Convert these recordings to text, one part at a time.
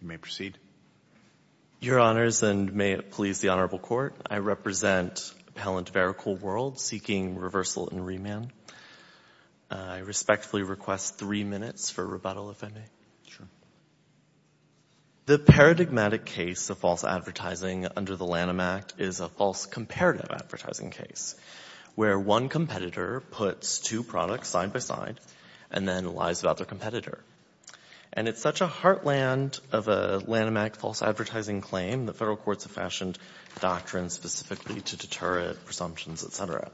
You may proceed. Your Honors, and may it please the Honorable Court, I represent appellant Vericool World seeking reversal and remand. I respectfully request three minutes for rebuttal, if I may. Sure. The paradigmatic case of false advertising under the Lanham Act is a false comparative advertising case, where one competitor puts two products side by side and then lies about their competitor. And it's such a heartland of a Lanham Act false advertising claim, the federal courts have fashioned doctrines specifically to deter it, presumptions, et cetera.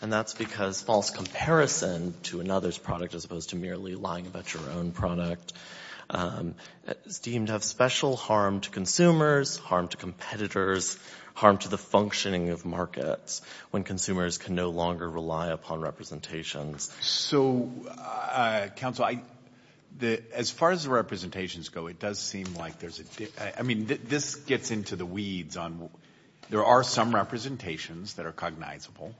And that's because false comparison to another's product as opposed to merely lying about your own product is deemed to have special harm to consumers, harm to competitors, harm to the functioning of markets when consumers can no longer rely upon representations. So, counsel, as far as the representations go, it does seem like there's a difference. I mean, this gets into the weeds. There are some representations that are cognizable,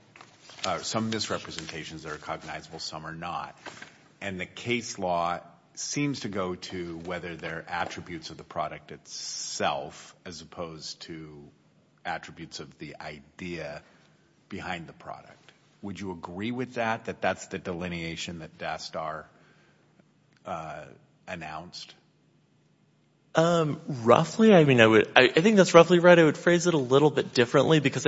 some misrepresentations that are cognizable, some are not. And the case law seems to go to whether there are attributes of the product itself as opposed to attributes of the idea behind the product. Would you agree with that, that that's the delineation that Dastar announced? Roughly. I mean, I think that's roughly right. I would phrase it a little bit differently because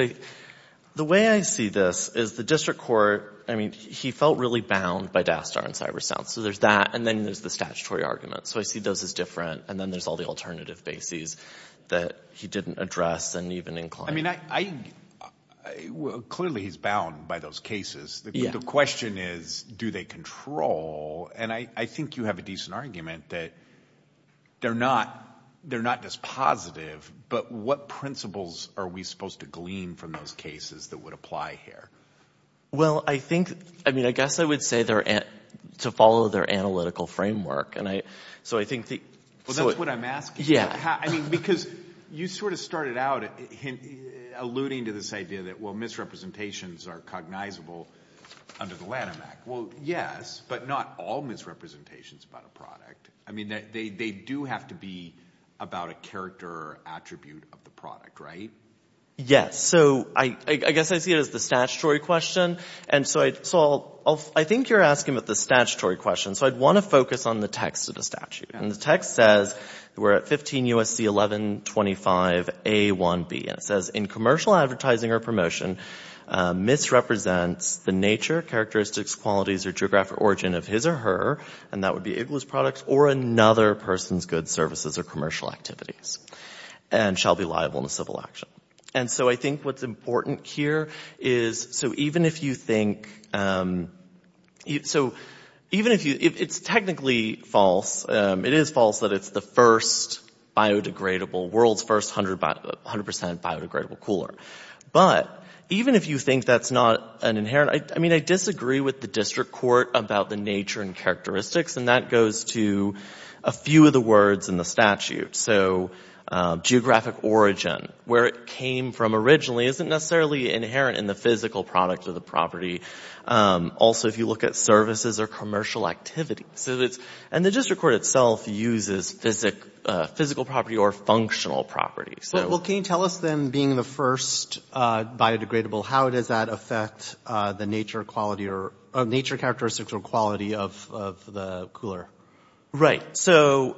the way I see this is the district court, I mean, he felt really bound by Dastar and CyberSouth. So there's that, and then there's the statutory argument. So I see those as different, and then there's all the alternative bases that he didn't address and even incline. I mean, clearly he's bound by those cases. The question is, do they control? And I think you have a decent argument that they're not just positive, but what principles are we supposed to glean from those cases that would apply here? Well, I think, I mean, I guess I would say to follow their analytical framework. Well, that's what I'm asking. Yeah. I mean, because you sort of started out alluding to this idea that, well, misrepresentations are cognizable under the Lanham Act. Well, yes, but not all misrepresentations about a product. I mean, they do have to be about a character or attribute of the product, right? Yes. So I guess I see it as the statutory question, and so I think you're asking about the statutory question. So I'd want to focus on the text of the statute. And the text says we're at 15 U.S.C. 1125A1B, and it says, in commercial advertising or promotion, misrepresents the nature, characteristics, qualities, or geographic origin of his or her, and that would be Igloos products, or another person's goods, services, or commercial activities, and shall be liable in a civil action. And so I think what's important here is, so even if you think, so even if you, it's technically false. It is false that it's the first biodegradable, world's first 100% biodegradable cooler. But even if you think that's not an inherent, I mean, I disagree with the district court about the nature and characteristics, and that goes to a few of the words in the statute. So geographic origin, where it came from originally, isn't necessarily inherent in the physical product of the property. Also, if you look at services or commercial activities, and the district court itself uses physical property or functional property. Well, can you tell us then, being the first biodegradable, how does that affect the nature, characteristics, or quality of the cooler? Right. So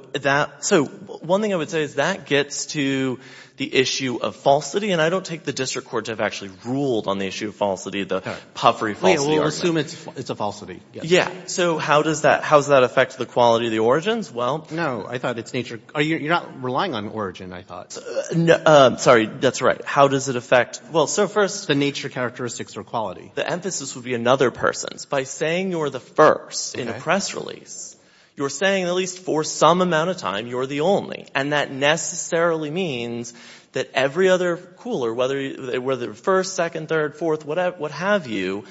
one thing I would say is that gets to the issue of falsity, and I don't take the district court to have actually ruled on the issue of falsity, the puffery falsity argument. We'll assume it's a falsity. Yeah. So how does that affect the quality of the origins? No, I thought it's nature. You're not relying on origin, I thought. Sorry, that's right. How does it affect? Well, so first the nature, characteristics, or quality. The emphasis would be another person. By saying you're the first in a press release, you're saying at least for some amount of time you're the only. And that necessarily means that every other cooler, whether first, second, third, fourth, what have you,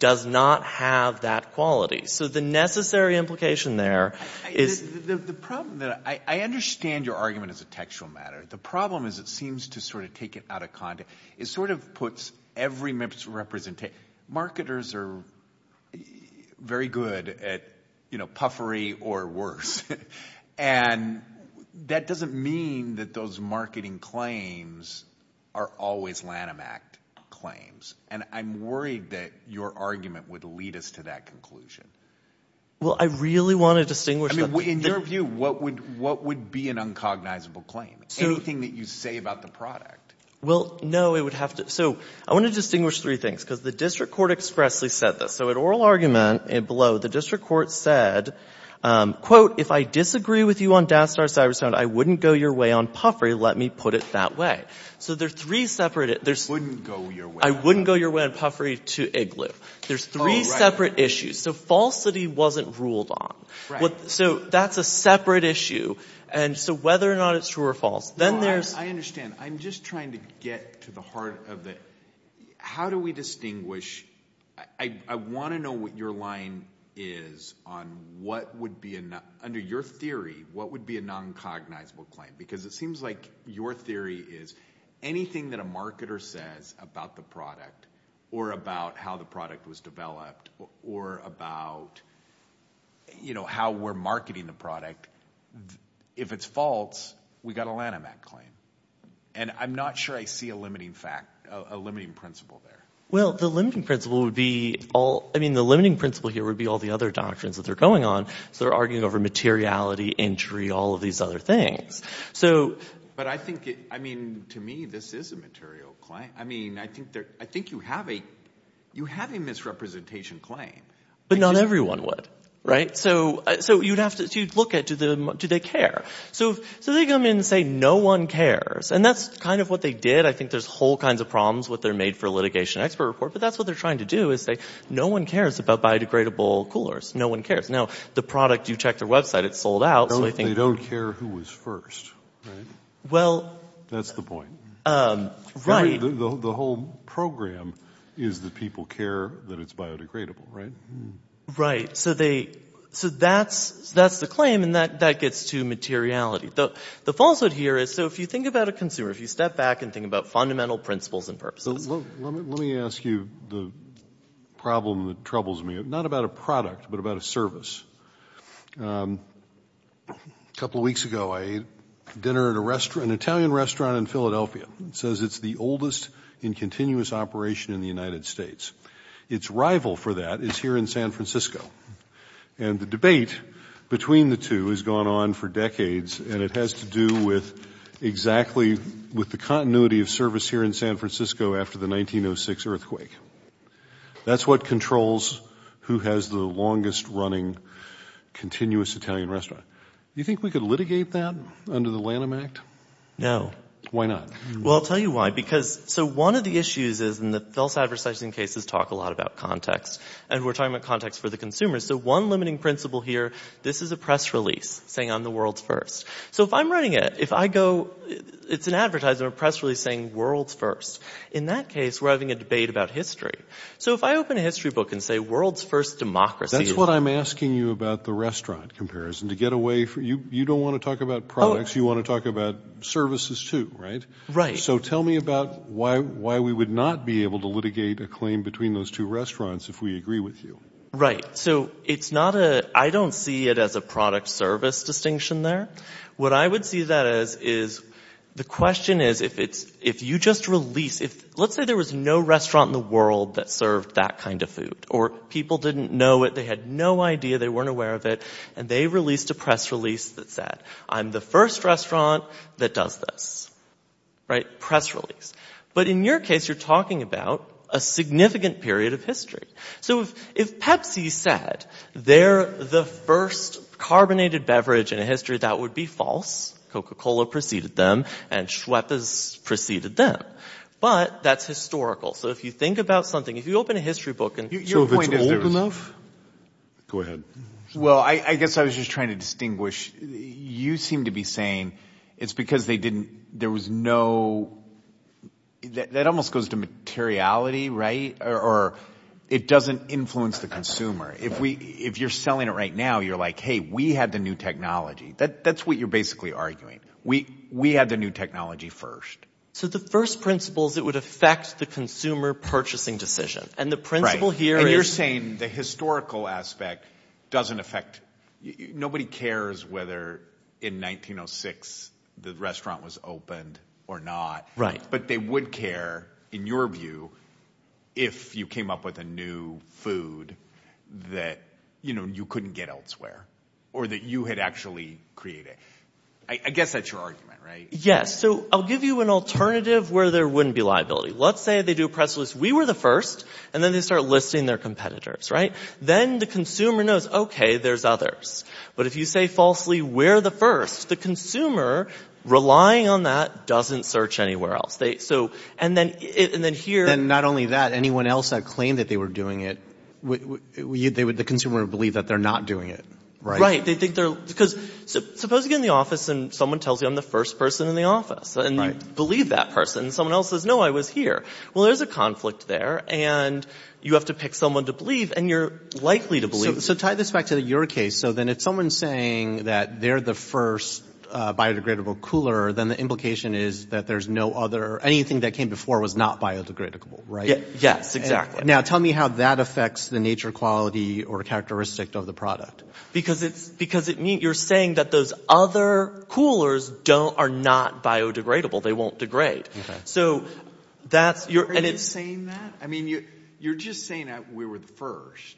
does not have that quality. So the necessary implication there is the problem. I understand your argument as a textual matter. The problem is it seems to sort of take it out of context. It sort of puts every member's representation. Marketers are very good at puffery or worse, and that doesn't mean that those marketing claims are always Lanham Act claims. And I'm worried that your argument would lead us to that conclusion. Well, I really want to distinguish. I mean, in your view, what would be an uncognizable claim? Anything that you say about the product. Well, no, it would have to. So I want to distinguish three things, because the district court expressly said this. So in oral argument below, the district court said, quote, if I disagree with you on DASDAR-Cybersound, I wouldn't go your way on puffery, let me put it that way. So there's three separate issues. I wouldn't go your way on puffery. I wouldn't go your way on puffery to IGLOO. There's three separate issues. So falsity wasn't ruled on. So that's a separate issue. And so whether or not it's true or false. I understand. I'm just trying to get to the heart of it. How do we distinguish? I want to know what your line is on what would be, under your theory, what would be a noncognizable claim? Because it seems like your theory is anything that a marketer says about the product or about how the product was developed or about how we're marketing the product, if it's false, we've got a Lanham Act claim. And I'm not sure I see a limiting principle there. Well, the limiting principle would be all the other doctrines that are going on. So they're arguing over materiality, entry, all of these other things. But I think, I mean, to me this is a material claim. I mean, I think you have a misrepresentation claim. But not everyone would. Right? So you'd have to look at do they care. So they come in and say no one cares. And that's kind of what they did. I think there's whole kinds of problems with their made for litigation expert report. But that's what they're trying to do is say no one cares about biodegradable coolers. No one cares. Now, the product, you check their website, it's sold out. They don't care who was first. Right? Well. That's the point. Right. The whole program is that people care that it's biodegradable. Right? Right. So that's the claim. And that gets to materiality. The falsehood here is so if you think about a consumer, if you step back and think about fundamental principles and purposes. Let me ask you the problem that troubles me. Not about a product, but about a service. A couple of weeks ago I ate dinner at an Italian restaurant in Philadelphia. It says it's the oldest in continuous operation in the United States. Its rival for that is here in San Francisco. And the debate between the two has gone on for decades, and it has to do with exactly with the continuity of service here in San Francisco after the 1906 earthquake. That's what controls who has the longest running continuous Italian restaurant. Do you think we could litigate that under the Lanham Act? No. Why not? Well, I'll tell you why. Because, so one of the issues is, and the false advertising cases talk a lot about context, and we're talking about context for the consumers. So one limiting principle here, this is a press release saying I'm the world's first. So if I'm running it, if I go, it's an advertiser, a press release saying world's first. In that case, we're having a debate about history. So if I open a history book and say world's first democracy. That's what I'm asking you about the restaurant comparison. To get away from, you don't want to talk about products. You want to talk about services too, right? Right. So tell me about why we would not be able to litigate a claim between those two restaurants if we agree with you. Right. So it's not a, I don't see it as a product service distinction there. What I would see that as is the question is if you just release, let's say there was no restaurant in the world that served that kind of food. Or people didn't know it. They had no idea. They weren't aware of it. And they released a press release that said I'm the first restaurant that does this. Right. Press release. But in your case, you're talking about a significant period of history. So if Pepsi said they're the first carbonated beverage in history, that would be false. Coca-Cola preceded them. And Schweppes preceded them. But that's historical. So if you think about something, if you open a history book. So if it's old enough? Go ahead. Well, I guess I was just trying to distinguish. You seem to be saying it's because they didn't, there was no, that almost goes to materiality, right? Or it doesn't influence the consumer. If you're selling it right now, you're like, hey, we had the new technology. That's what you're basically arguing. We had the new technology first. So the first principle is it would affect the consumer purchasing decision. And the principle here is. And you're saying the historical aspect doesn't affect. Nobody cares whether in 1906 the restaurant was opened or not. Right. But they would care, in your view, if you came up with a new food that, you know, you couldn't get elsewhere. Or that you had actually created. I guess that's your argument, right? Yes. So I'll give you an alternative where there wouldn't be liability. Let's say they do a press list. We were the first. And then they start listing their competitors, right? Then the consumer knows, okay, there's others. But if you say falsely, we're the first. The consumer, relying on that, doesn't search anywhere else. And then here. And not only that. Anyone else that claimed that they were doing it, the consumer would believe that they're not doing it. Right. Because suppose you get in the office and someone tells you I'm the first person in the office. And you believe that person. And someone else says, no, I was here. Well, there's a conflict there. And you have to pick someone to believe. And you're likely to believe. So tie this back to your case. Okay. So then if someone's saying that they're the first biodegradable cooler, then the implication is that there's no other. Anything that came before was not biodegradable, right? Yes. Exactly. Now tell me how that affects the nature, quality, or characteristic of the product. Because you're saying that those other coolers are not biodegradable. They won't degrade. Are you saying that? I mean, you're just saying we were the first.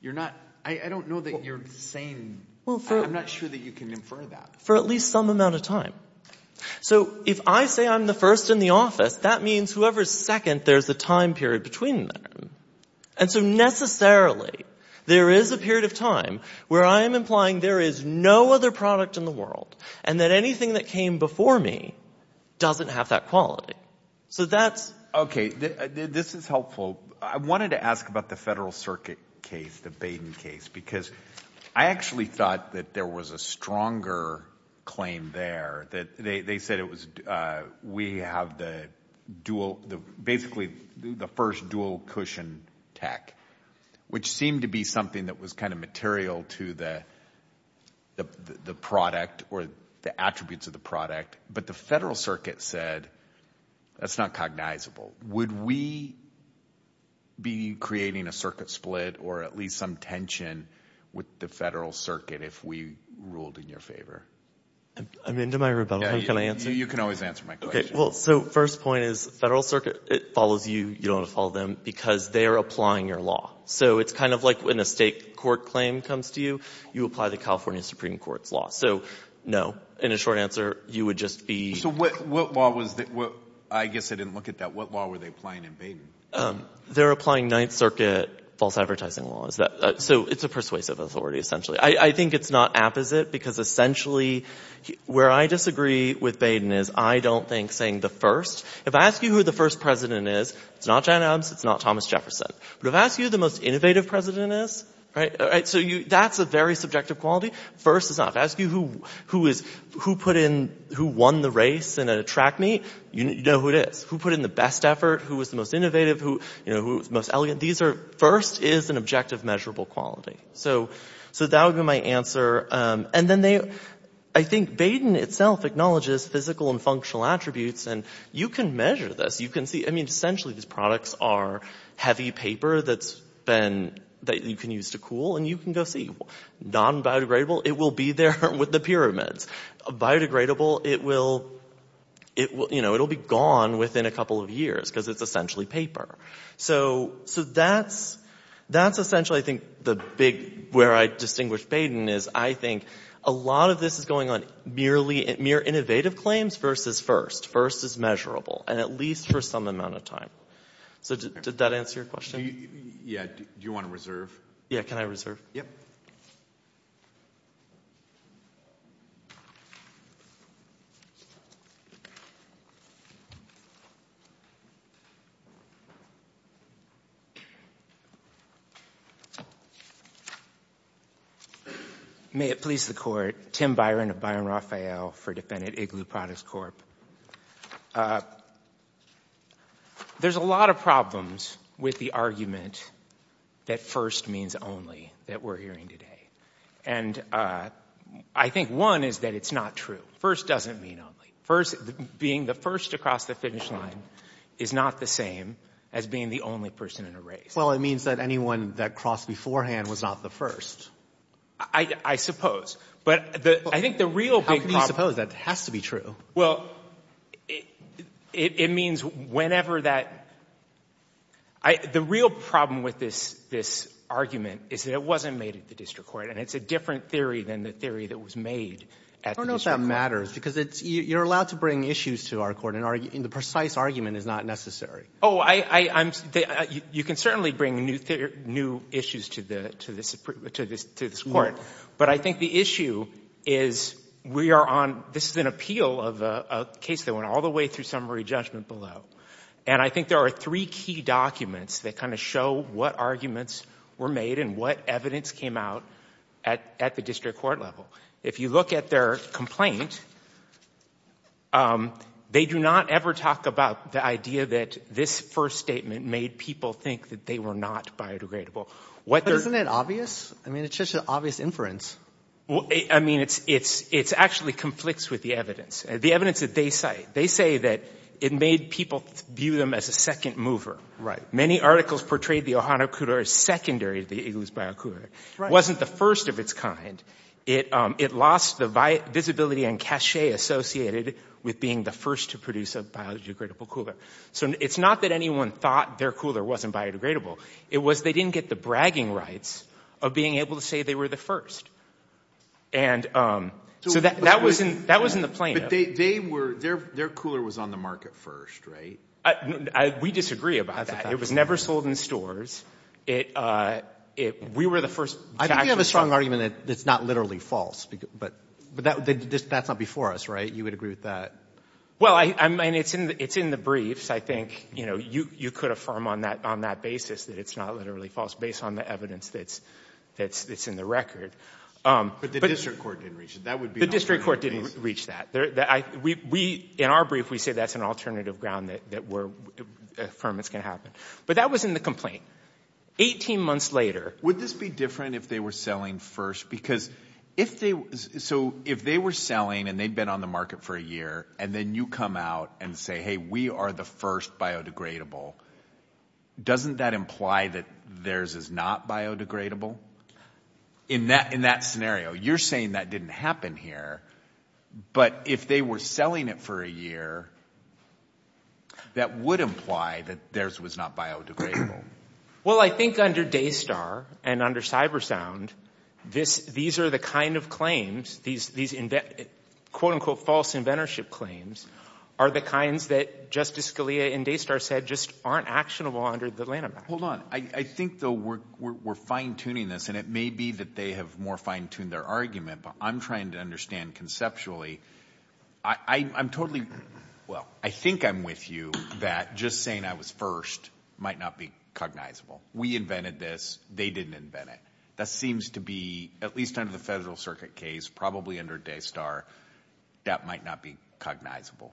You're not. I don't know that you're saying. I'm not sure that you can infer that. For at least some amount of time. So if I say I'm the first in the office, that means whoever's second, there's a time period between them. And so necessarily, there is a period of time where I am implying there is no other product in the world. And that anything that came before me doesn't have that quality. So that's. Okay. This is helpful. I wanted to ask about the Federal Circuit case, the Baden case, because I actually thought that there was a stronger claim there. They said we have basically the first dual cushion tech, which seemed to be something that was kind of material to the product or the attributes of the product. But the Federal Circuit said that's not cognizable. Would we be creating a circuit split or at least some tension with the Federal Circuit if we ruled in your favor? I'm into my rebuttal. Can I answer? You can always answer my question. Okay. Well, so first point is Federal Circuit, it follows you. You don't want to follow them because they are applying your law. So it's kind of like when a state court claim comes to you, you apply the California Supreme Court's law. So no, in a short answer, you would just be. So what law was that? I guess I didn't look at that. What law were they applying in Baden? They're applying Ninth Circuit false advertising laws. So it's a persuasive authority essentially. I think it's not apposite because essentially where I disagree with Baden is I don't think saying the first. If I ask you who the first president is, it's not John Adams, it's not Thomas Jefferson. But if I ask you who the most innovative president is, right, so that's a very subjective quality. First is not. If I ask you who won the race in a track meet, you know who it is. Who put in the best effort? Who was the most innovative? Who was the most elegant? First is an objective measurable quality. So that would be my answer. And then I think Baden itself acknowledges physical and functional attributes. And you can measure this. You can see. I mean essentially these products are heavy paper that you can use to cool. And you can go see. Non-biodegradable, it will be there with the pyramids. Biodegradable, it will be gone within a couple of years because it's essentially paper. So that's essentially I think the big where I distinguish Baden is I think a lot of this is going on mere innovative claims versus first. First is measurable and at least for some amount of time. So did that answer your question? Yeah. Do you want to reserve? Yeah, can I reserve? Yep. May it please the court. Tim Byron of Byron Raphael for defendant Igloo Products Corp. There's a lot of problems with the argument that first means only that we're hearing today. And I think one is that it's not true. First doesn't mean only. First, being the first to cross the finish line is not the same as being the only person in a race. Well, it means that anyone that crossed beforehand was not the first. I suppose. But I think the real big problem. How can you suppose that? It has to be true. Well, it means whenever that. The real problem with this argument is that it wasn't made at the district court. And it's a different theory than the theory that was made at the district court. I don't know if that matters because you're allowed to bring issues to our court and the precise argument is not necessary. Oh, you can certainly bring new issues to this court. But I think the issue is we are on. This is an appeal of a case that went all the way through summary judgment below. And I think there are three key documents that kind of show what arguments were made and what evidence came out at the district court level. If you look at their complaint, they do not ever talk about the idea that this first statement made people think that they were not biodegradable. Isn't it obvious? I mean, it's just an obvious inference. I mean, it actually conflicts with the evidence. The evidence that they cite, they say that it made people view them as a second mover. Right. Many articles portrayed the Ohana Cooler as secondary to the Igloos Biocooler. It wasn't the first of its kind. It lost the visibility and cachet associated with being the first to produce a biodegradable cooler. So it's not that anyone thought their cooler wasn't biodegradable. It was they didn't get the bragging rights of being able to say they were the first. And so that was in the plaintiff. But they were, their cooler was on the market first, right? We disagree about that. It was never sold in stores. We were the first to actually sell it. I think you have a strong argument that it's not literally false. But that's not before us, right? You would agree with that? Well, I mean, it's in the briefs, I think. You know, you could affirm on that basis that it's not literally false based on the evidence that's in the record. But the district court didn't reach it. The district court didn't reach that. In our brief, we say that's an alternative ground that affirmance can happen. But that was in the complaint. Eighteen months later. Would this be different if they were selling first? So if they were selling and they'd been on the market for a year and then you come out and say, hey, we are the first biodegradable, doesn't that imply that theirs is not biodegradable? In that scenario, you're saying that didn't happen here. But if they were selling it for a year, that would imply that theirs was not biodegradable. Well, I think under Daystar and under Cybersound, these are the kind of claims, these quote unquote false inventorship claims, are the kinds that Justice Scalia and Daystar said just aren't actionable under the Lanham Act. Hold on. I think, though, we're fine tuning this. And it may be that they have more fine tuned their argument, but I'm trying to understand conceptually. I'm totally. Well, I think I'm with you that just saying I was first might not be cognizable. We invented this. They didn't invent it. That seems to be at least under the federal circuit case, probably under Daystar, that might not be cognizable.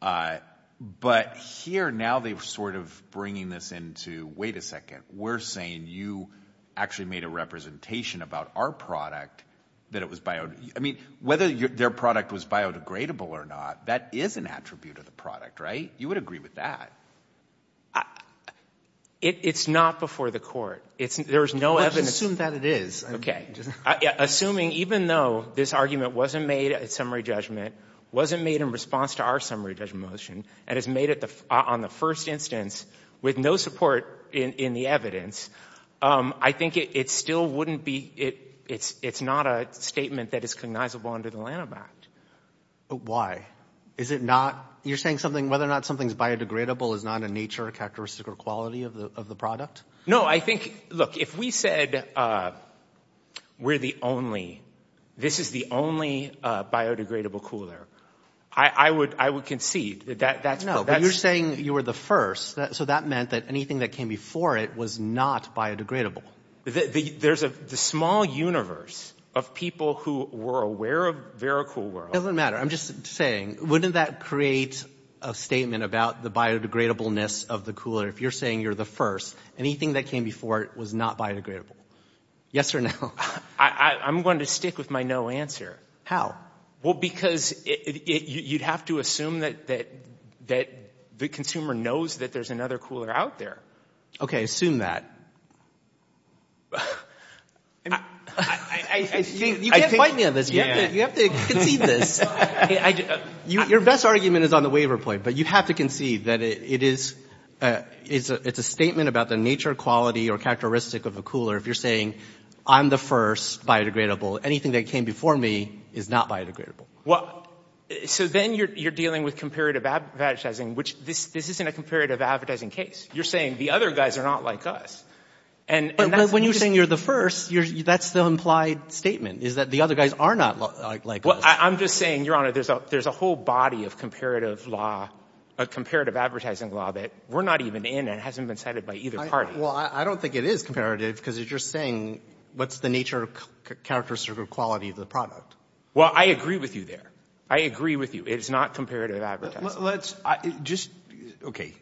But here now they were sort of bringing this into. Wait a second. We're saying you actually made a representation about our product that it was biodegradable. I mean, whether their product was biodegradable or not, that is an attribute of the product, right? You would agree with that. It's not before the court. Let's assume that it is. Okay. I think it still wouldn't be. It's not a statement that is cognizable under the Lanham Act. Is it not? You're saying whether or not something is biodegradable is not in nature a characteristic or quality of the product? No, I think, look, if we said we're the only, this is the only biodegradable cooler, I would concede that that's. No, but you're saying you were the first. So that meant that anything that came before it was not biodegradable. There's a small universe of people who were aware of VeraCool World. It doesn't matter. I'm just saying, wouldn't that create a statement about the biodegradableness of the cooler? If you're saying you're the first, anything that came before it was not biodegradable? Yes or no? I'm going to stick with my no answer. How? Well, because you'd have to assume that the consumer knows that there's another cooler out there. Okay, assume that. You can't fight me on this. You have to concede this. Your best argument is on the waiver point, but you have to concede that it is, it's a statement about the nature, quality, or characteristic of a cooler. If you're saying I'm the first biodegradable, anything that came before me is not biodegradable. So then you're dealing with comparative advertising, which this isn't a comparative advertising case. You're saying the other guys are not like us. But when you're saying you're the first, that's the implied statement is that the other guys are not like us. I'm just saying, Your Honor, there's a whole body of comparative law, comparative advertising law that we're not even in and hasn't been cited by either party. Well, I don't think it is comparative because you're just saying what's the nature, characteristic, or quality of the product. Well, I agree with you there. I agree with you. It is not comparative advertising. Let's just, okay,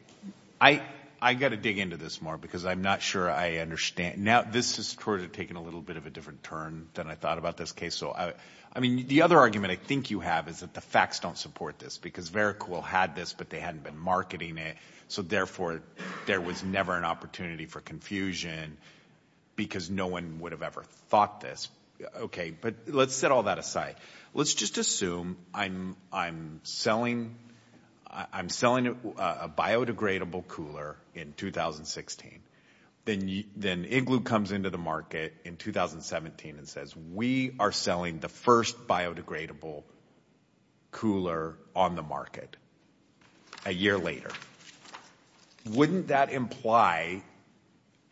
I've got to dig into this more because I'm not sure I understand. Now, this is sort of taking a little bit of a different turn than I thought about this case. So, I mean, the other argument I think you have is that the facts don't support this because Vericool had this, but they hadn't been marketing it. So, therefore, there was never an opportunity for confusion because no one would have ever thought this. Okay, but let's set all that aside. Let's just assume I'm selling a biodegradable cooler in 2016. Then Igloo comes into the market in 2017 and says we are selling the first biodegradable cooler on the market a year later. Wouldn't that imply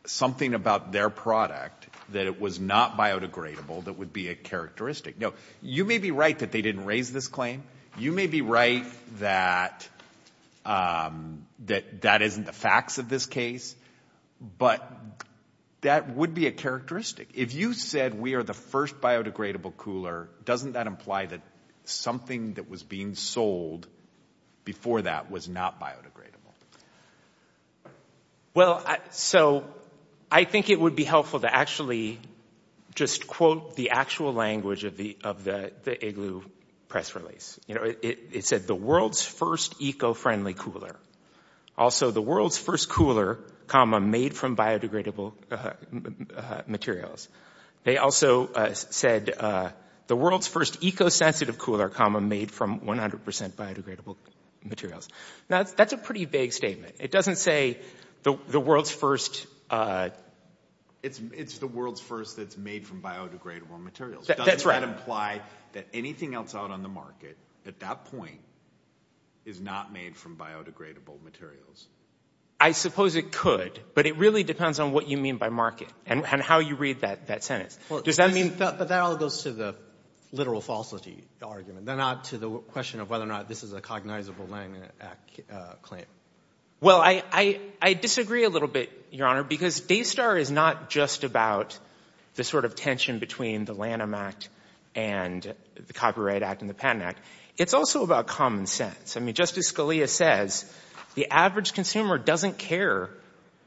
something about their product that it was not biodegradable that would be a characteristic? Now, you may be right that they didn't raise this claim. You may be right that that isn't the facts of this case, but that would be a characteristic. If you said we are the first biodegradable cooler, doesn't that imply that something that was being sold before that was not biodegradable? Well, so I think it would be helpful to actually just quote the actual language of the Igloo press release. It said the world's first eco-friendly cooler. Also, the world's first cooler, comma, made from biodegradable materials. They also said the world's first eco-sensitive cooler, comma, made from 100% biodegradable materials. Now, that's a pretty vague statement. It doesn't say the world's first. It's the world's first that's made from biodegradable materials. That's right. Doesn't that imply that anything else out on the market at that point is not made from biodegradable materials? I suppose it could, but it really depends on what you mean by market and how you read that sentence. But that all goes to the literal falsity argument, not to the question of whether or not this is a cognizable Lanham Act claim. Well, I disagree a little bit, Your Honor, because Daystar is not just about the sort of tension between the Lanham Act and the Copyright Act and the Patent Act. It's also about common sense. I mean just as Scalia says, the average consumer doesn't care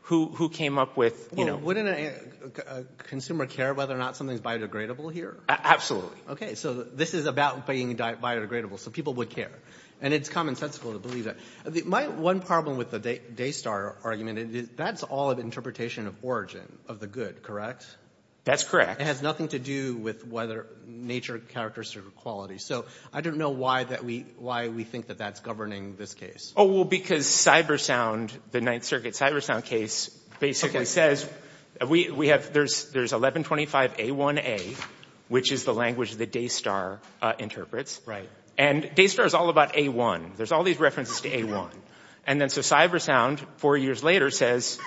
who came up with – So wouldn't a consumer care whether or not something is biodegradable here? Absolutely. Okay, so this is about being biodegradable, so people would care. And it's commonsensical to believe that. My one problem with the Daystar argument, that's all an interpretation of origin, of the good, correct? That's correct. It has nothing to do with whether nature characterizes quality. So I don't know why we think that that's governing this case. Oh, well, because Cybersound, the Ninth Circuit Cybersound case, basically says we have – there's 1125A1A, which is the language that Daystar interprets. Right. And Daystar is all about A1. There's all these references to A1. And then so Cybersound, four years later, says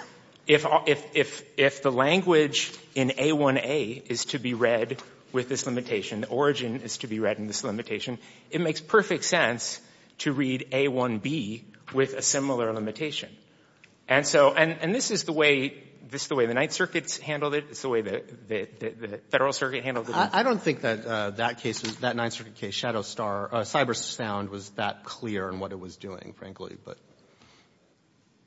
if the language in A1A is to be read with this limitation, the origin is to be read in this limitation, it makes perfect sense to read A1B with a similar limitation. And so – and this is the way – this is the way the Ninth Circuit handled it. It's the way the Federal Circuit handled it. I don't think that that case, that Ninth Circuit case, Shadowstar – Cybersound was that clear in what it was doing, frankly.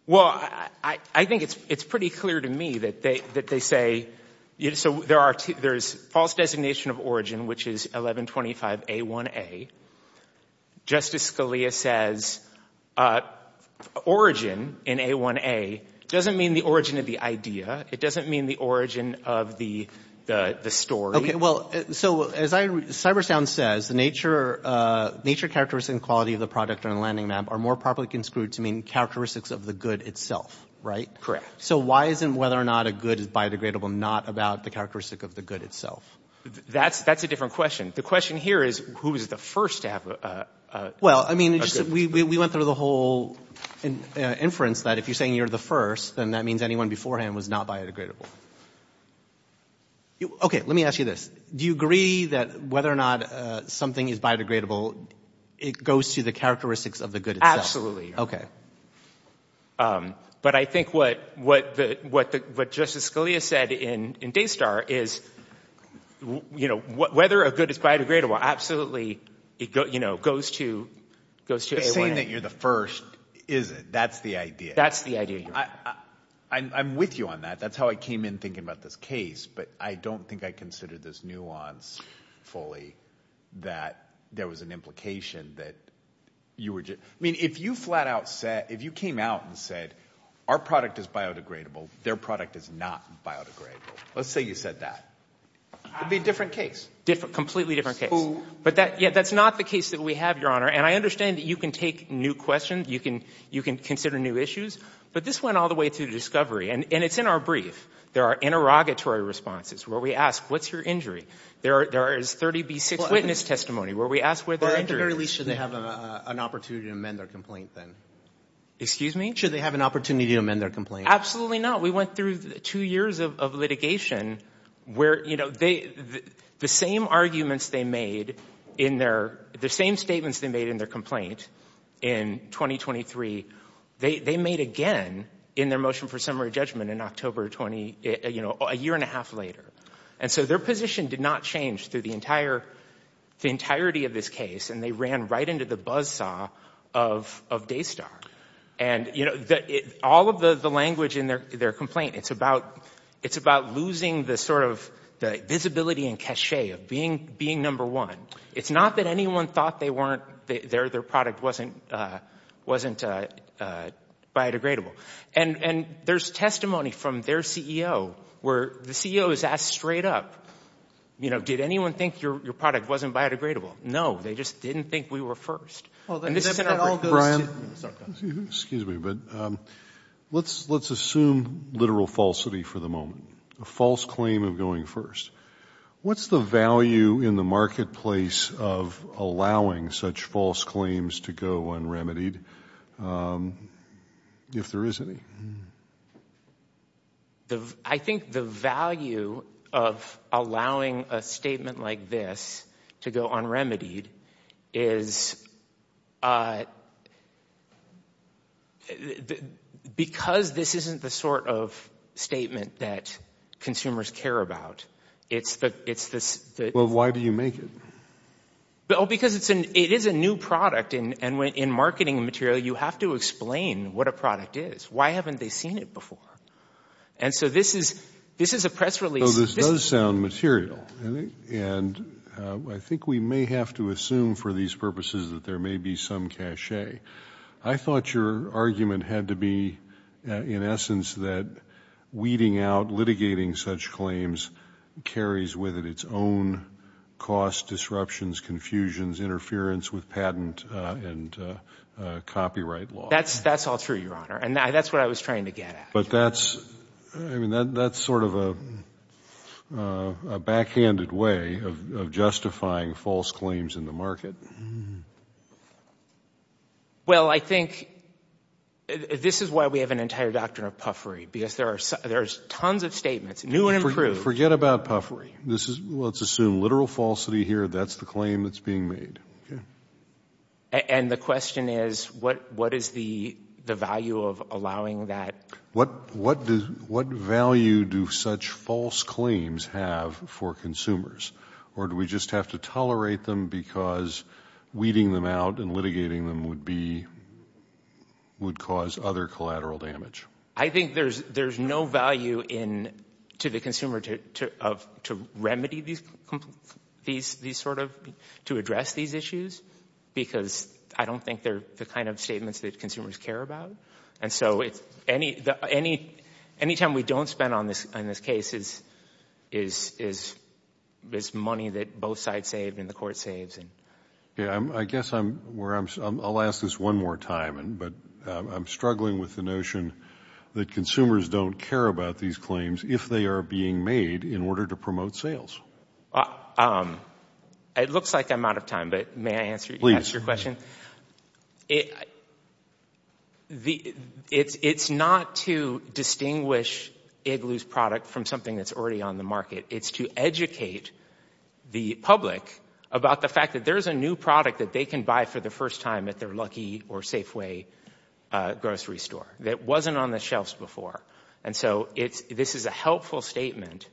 Well, I think it's pretty clear to me that they say – so there's false designation of origin, which is 1125A1A. Justice Scalia says origin in A1A doesn't mean the origin of the idea. It doesn't mean the origin of the story. Okay. Well, so as Cybersound says, the nature characteristic and quality of the product on the landing map are more properly construed to mean characteristics of the good itself, right? Correct. So why isn't whether or not a good is biodegradable not about the characteristic of the good itself? That's a different question. The question here is who is the first to have a – Well, I mean, we went through the whole inference that if you're saying you're the first, then that means anyone beforehand was not biodegradable. Okay. Let me ask you this. Do you agree that whether or not something is biodegradable, it goes to the characteristics of the good itself? Okay. But I think what Justice Scalia said in Daystar is whether a good is biodegradable, absolutely it goes to A1A. But saying that you're the first isn't. That's the idea. That's the idea. I'm with you on that. That's how I came in thinking about this case. But I don't think I considered this nuance fully that there was an implication that you were – I mean, if you flat out said – if you came out and said our product is biodegradable, their product is not biodegradable. Let's say you said that. It would be a different case. Completely different case. But that's not the case that we have, Your Honor. And I understand that you can take new questions. You can consider new issues. But this went all the way through discovery. And it's in our brief. There are interrogatory responses where we ask, what's your injury? There is 30B6 witness testimony where we ask where their injury is. Well, at the very least, should they have an opportunity to amend their complaint then? Excuse me? Should they have an opportunity to amend their complaint? Absolutely not. We went through two years of litigation where, you know, the same arguments they made in their – the same statements they made in their complaint in 2023, they made again in their motion for summary judgment in October 20 – you know, a year and a half later. And so their position did not change through the entire – the entirety of this case. And they ran right into the buzzsaw of Daystar. And, you know, all of the language in their complaint, it's about losing the sort of visibility and cachet of being number one. It's not that anyone thought they weren't – their product wasn't biodegradable. And there's testimony from their CEO where the CEO is asked straight up, you know, did anyone think your product wasn't biodegradable? No, they just didn't think we were first. Brian? Excuse me, but let's assume literal falsity for the moment, a false claim of going first. What's the value in the marketplace of allowing such false claims to go unremitied if there is any? I think the value of allowing a statement like this to go unremitied is because this isn't the sort of statement that consumers care about. It's the – Well, why do you make it? Because it is a new product. And in marketing material, you have to explain what a product is. Why haven't they seen it before? And so this is a press release. Well, this does sound material. And I think we may have to assume for these purposes that there may be some cachet. I thought your argument had to be in essence that weeding out, litigating such claims carries with it its own costs, disruptions, confusions, interference with patent and copyright law. That's all true, Your Honor. And that's what I was trying to get at. But that's sort of a backhanded way of justifying false claims in the market. Well, I think this is why we have an entire doctrine of puffery, because there are tons of statements, new and improved. Forget about puffery. Let's assume literal falsity here. That's the claim that's being made. And the question is what is the value of allowing that? What value do such false claims have for consumers? Or do we just have to tolerate them because weeding them out and litigating them would cause other collateral damage? I think there's no value to the consumer to remedy these sort of, to address these issues, because I don't think they're the kind of statements that consumers care about. And so any time we don't spend on this case is money that both sides save and the court saves. I guess I'll ask this one more time, but I'm struggling with the notion that consumers don't care about these claims if they are being made in order to promote sales. It looks like I'm out of time, but may I answer your question? Please. It's not to distinguish Igloo's product from something that's already on the market. It's to educate the public about the fact that there's a new product that they can buy for the first time at their Lucky or Safeway grocery store that wasn't on the shelves before. And so this is a helpful statement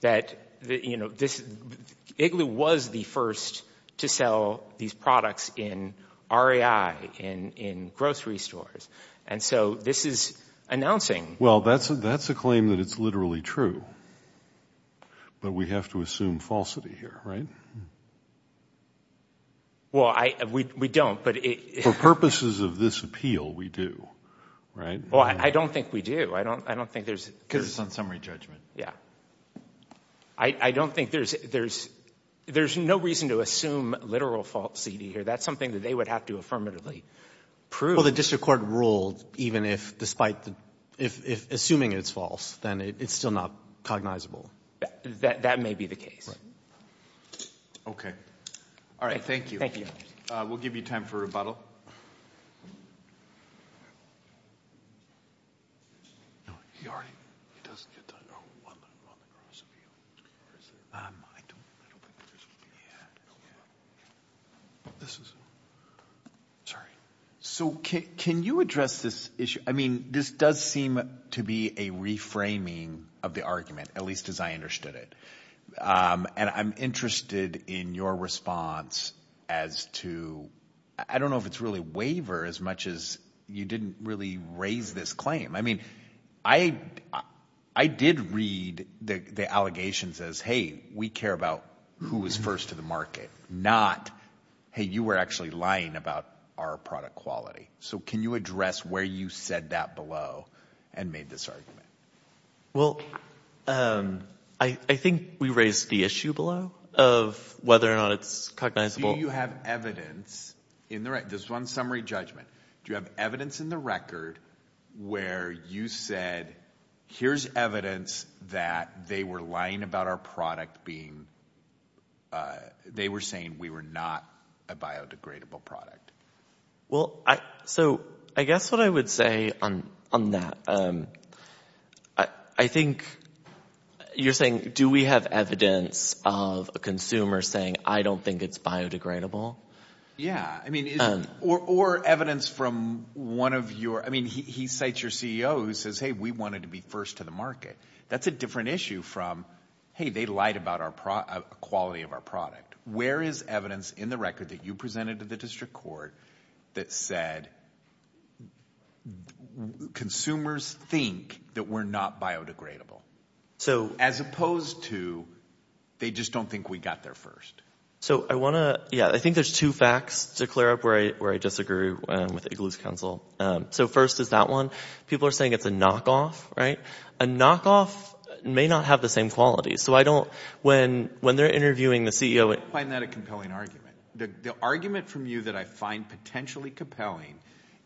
that Igloo was the first to sell these products in REI, in grocery stores. And so this is announcing. Well, that's a claim that it's literally true. But we have to assume falsity here, right? Well, we don't. For purposes of this appeal, we do, right? Well, I don't think we do. I don't think there's – Because it's on summary judgment. Yeah. I don't think there's – there's no reason to assume literal falsity here. That's something that they would have to affirmatively prove. Well, the district court ruled even if despite – if assuming it's false, then it's still not cognizable. That may be the case. Okay. All right, thank you. We'll give you time for rebuttal. So can you address this issue? I mean, this does seem to be a reframing of the argument, at least as I understood it. And I'm interested in your response as to – I don't know if it's really waiver as much as you didn't really raise this claim. I mean, I did read the allegations as, hey, we care about who was first to the market, not, hey, you were actually lying about our product quality. So can you address where you said that below and made this argument? Well, I think we raised the issue below of whether or not it's cognizable. Do you have evidence in the – just one summary judgment. Do you have evidence in the record where you said here's evidence that they were lying about our product being – they were saying we were not a biodegradable product? Well, so I guess what I would say on that, I think you're saying do we have evidence of a consumer saying I don't think it's biodegradable? Yeah. I mean, or evidence from one of your – I mean, he cites your CEO who says, hey, we wanted to be first to the market. That's a different issue from, hey, they lied about our – quality of our product. Where is evidence in the record that you presented to the district court that said consumers think that we're not biodegradable as opposed to they just don't think we got there first? So I want to – yeah, I think there's two facts to clear up where I disagree with Igloo's counsel. So first is that one. People are saying it's a knockoff. A knockoff may not have the same quality. So I don't – when they're interviewing the CEO – I don't find that a compelling argument. The argument from you that I find potentially compelling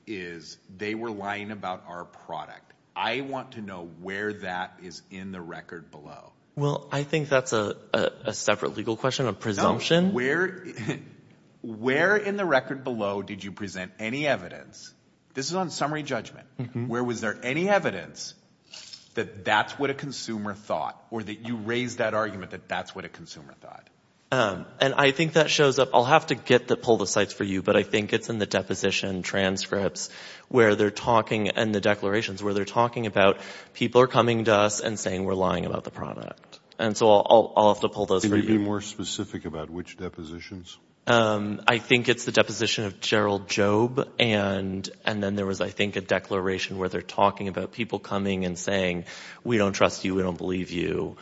is they were lying about our product. I want to know where that is in the record below. Well, I think that's a separate legal question, a presumption. No, where in the record below did you present any evidence? This is on summary judgment. Where was there any evidence that that's what a consumer thought or that you raised that argument that that's what a consumer thought? And I think that shows up – I'll have to get the – pull the cites for you, but I think it's in the deposition transcripts where they're talking – and the declarations where they're talking about people are coming to us and saying we're lying about the product. And so I'll have to pull those for you. Can you be more specific about which depositions? I think it's the deposition of Gerald Jobe. And then there was, I think, a declaration where they're talking about people coming and saying we don't trust you, we don't believe you.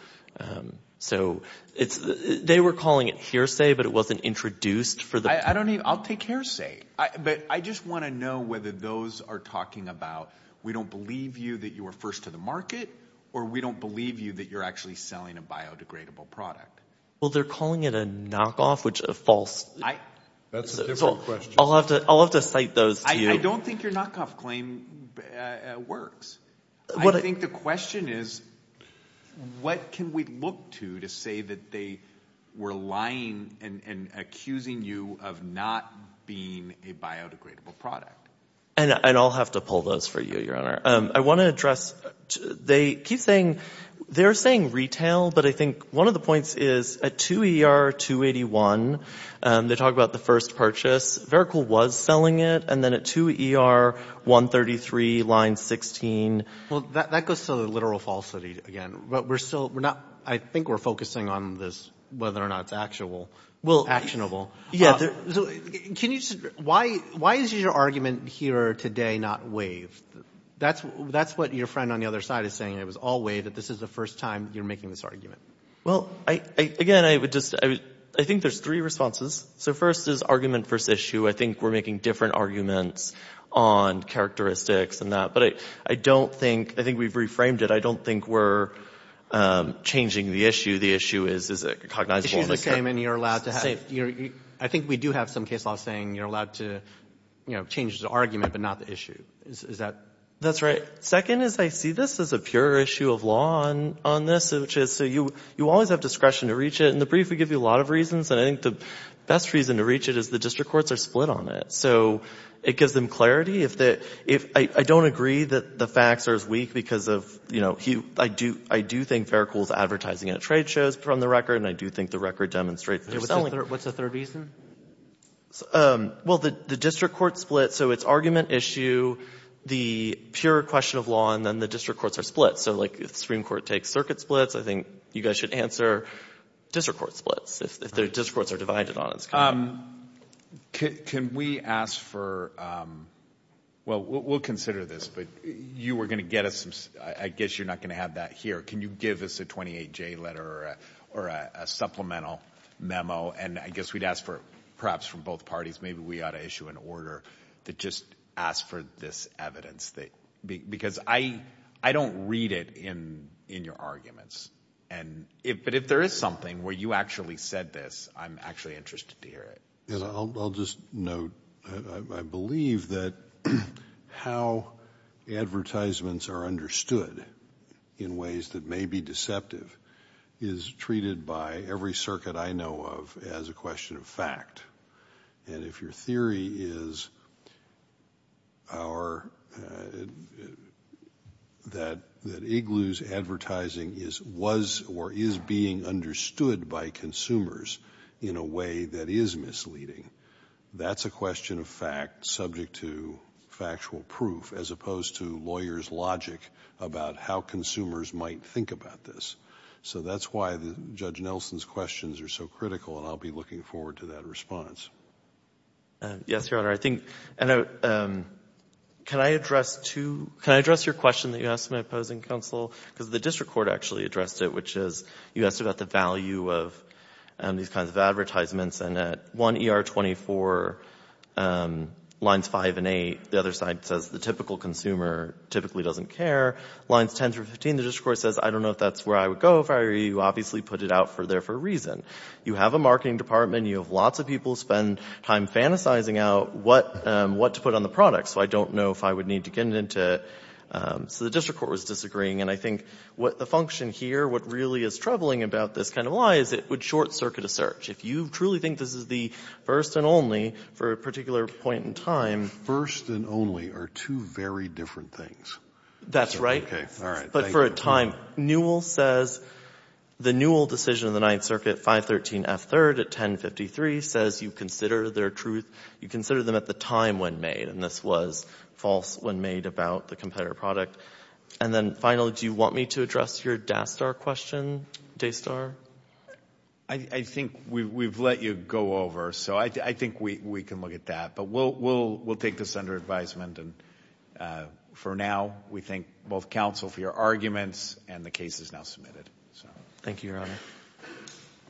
So it's – they were calling it hearsay, but it wasn't introduced for the – I don't even – I'll take hearsay. But I just want to know whether those are talking about we don't believe you that you were first to the market or we don't believe you that you're actually selling a biodegradable product. Well, they're calling it a knockoff, which is a false – That's a different question. I'll have to cite those to you. I don't think your knockoff claim works. I think the question is what can we look to to say that they were lying and accusing you of not being a biodegradable product. And I'll have to pull those for you, Your Honor. I want to address – they keep saying – they're saying retail, but I think one of the points is at 2ER-281, they talk about the first purchase. Vericle was selling it. And then at 2ER-133, line 16. Well, that goes to the literal falsity again. But we're still – we're not – I think we're focusing on this, whether or not it's actual, actionable. Can you – why is your argument here today not waived? That's what your friend on the other side is saying. It was all waived. This is the first time you're making this argument. Well, again, I would just – I think there's three responses. So first is argument versus issue. I think we're making different arguments on characteristics and that. But I don't think – I think we've reframed it. I don't think we're changing the issue. The issue is a cognizable mistake. I think we do have some case law saying you're allowed to change the argument but not the issue. Is that – That's right. Second is I see this as a pure issue of law on this, which is you always have discretion to reach it. In the brief, we give you a lot of reasons. And I think the best reason to reach it is the district courts are split on it. So it gives them clarity. I don't agree that the facts are as weak because of – I do think Vericle is advertising at trade shows, just from the record, and I do think the record demonstrates there's only – What's the third reason? Well, the district courts split. So it's argument, issue, the pure question of law, and then the district courts are split. So, like, if the Supreme Court takes circuit splits, I think you guys should answer district court splits. If the district courts are divided on it. Can we ask for – well, we'll consider this, but you were going to get us some – I guess you're not going to have that here. Can you give us a 28-J letter or a supplemental memo? And I guess we'd ask for – perhaps from both parties, maybe we ought to issue an order that just asks for this evidence. Because I don't read it in your arguments. But if there is something where you actually said this, I'm actually interested to hear it. I'll just note, I believe that how advertisements are understood in ways that may be deceptive is treated by every circuit I know of as a question of fact. And if your theory is that Igloo's advertising was or is being understood by consumers in a way that is misleading, that's a question of fact subject to factual proof as opposed to lawyers' logic about how consumers might think about this. So that's why Judge Nelson's questions are so critical, and I'll be looking forward to that response. Yes, Your Honor. I think – can I address two – can I address your question that you asked my opposing counsel? Because the district court actually addressed it, which is you asked about the value of these kinds of advertisements. And at 1 ER 24, lines 5 and 8, the other side says the typical consumer typically doesn't care. Lines 10 through 15, the district court says, I don't know if that's where I would go if I were you. You obviously put it out there for a reason. You have a marketing department. You have lots of people spend time fantasizing out what to put on the product. So I don't know if I would need to get into – so the district court was disagreeing. And I think what the function here, what really is troubling about this kind of lie is it would short-circuit a search. If you truly think this is the first and only for a particular point in time – First and only are two very different things. That's right. Okay. All right. Thank you. Newell says – the Newell decision of the Ninth Circuit, 513F3rd at 1053 says you consider their truth – you consider them at the time when made, and this was false when made about the competitor product. And then finally, do you want me to address your DASTAR question, DASTAR? I think we've let you go over, so I think we can look at that. But we'll take this under advisement. And for now, we thank both counsel for your arguments, and the case is now submitted. Thank you, Your Honor.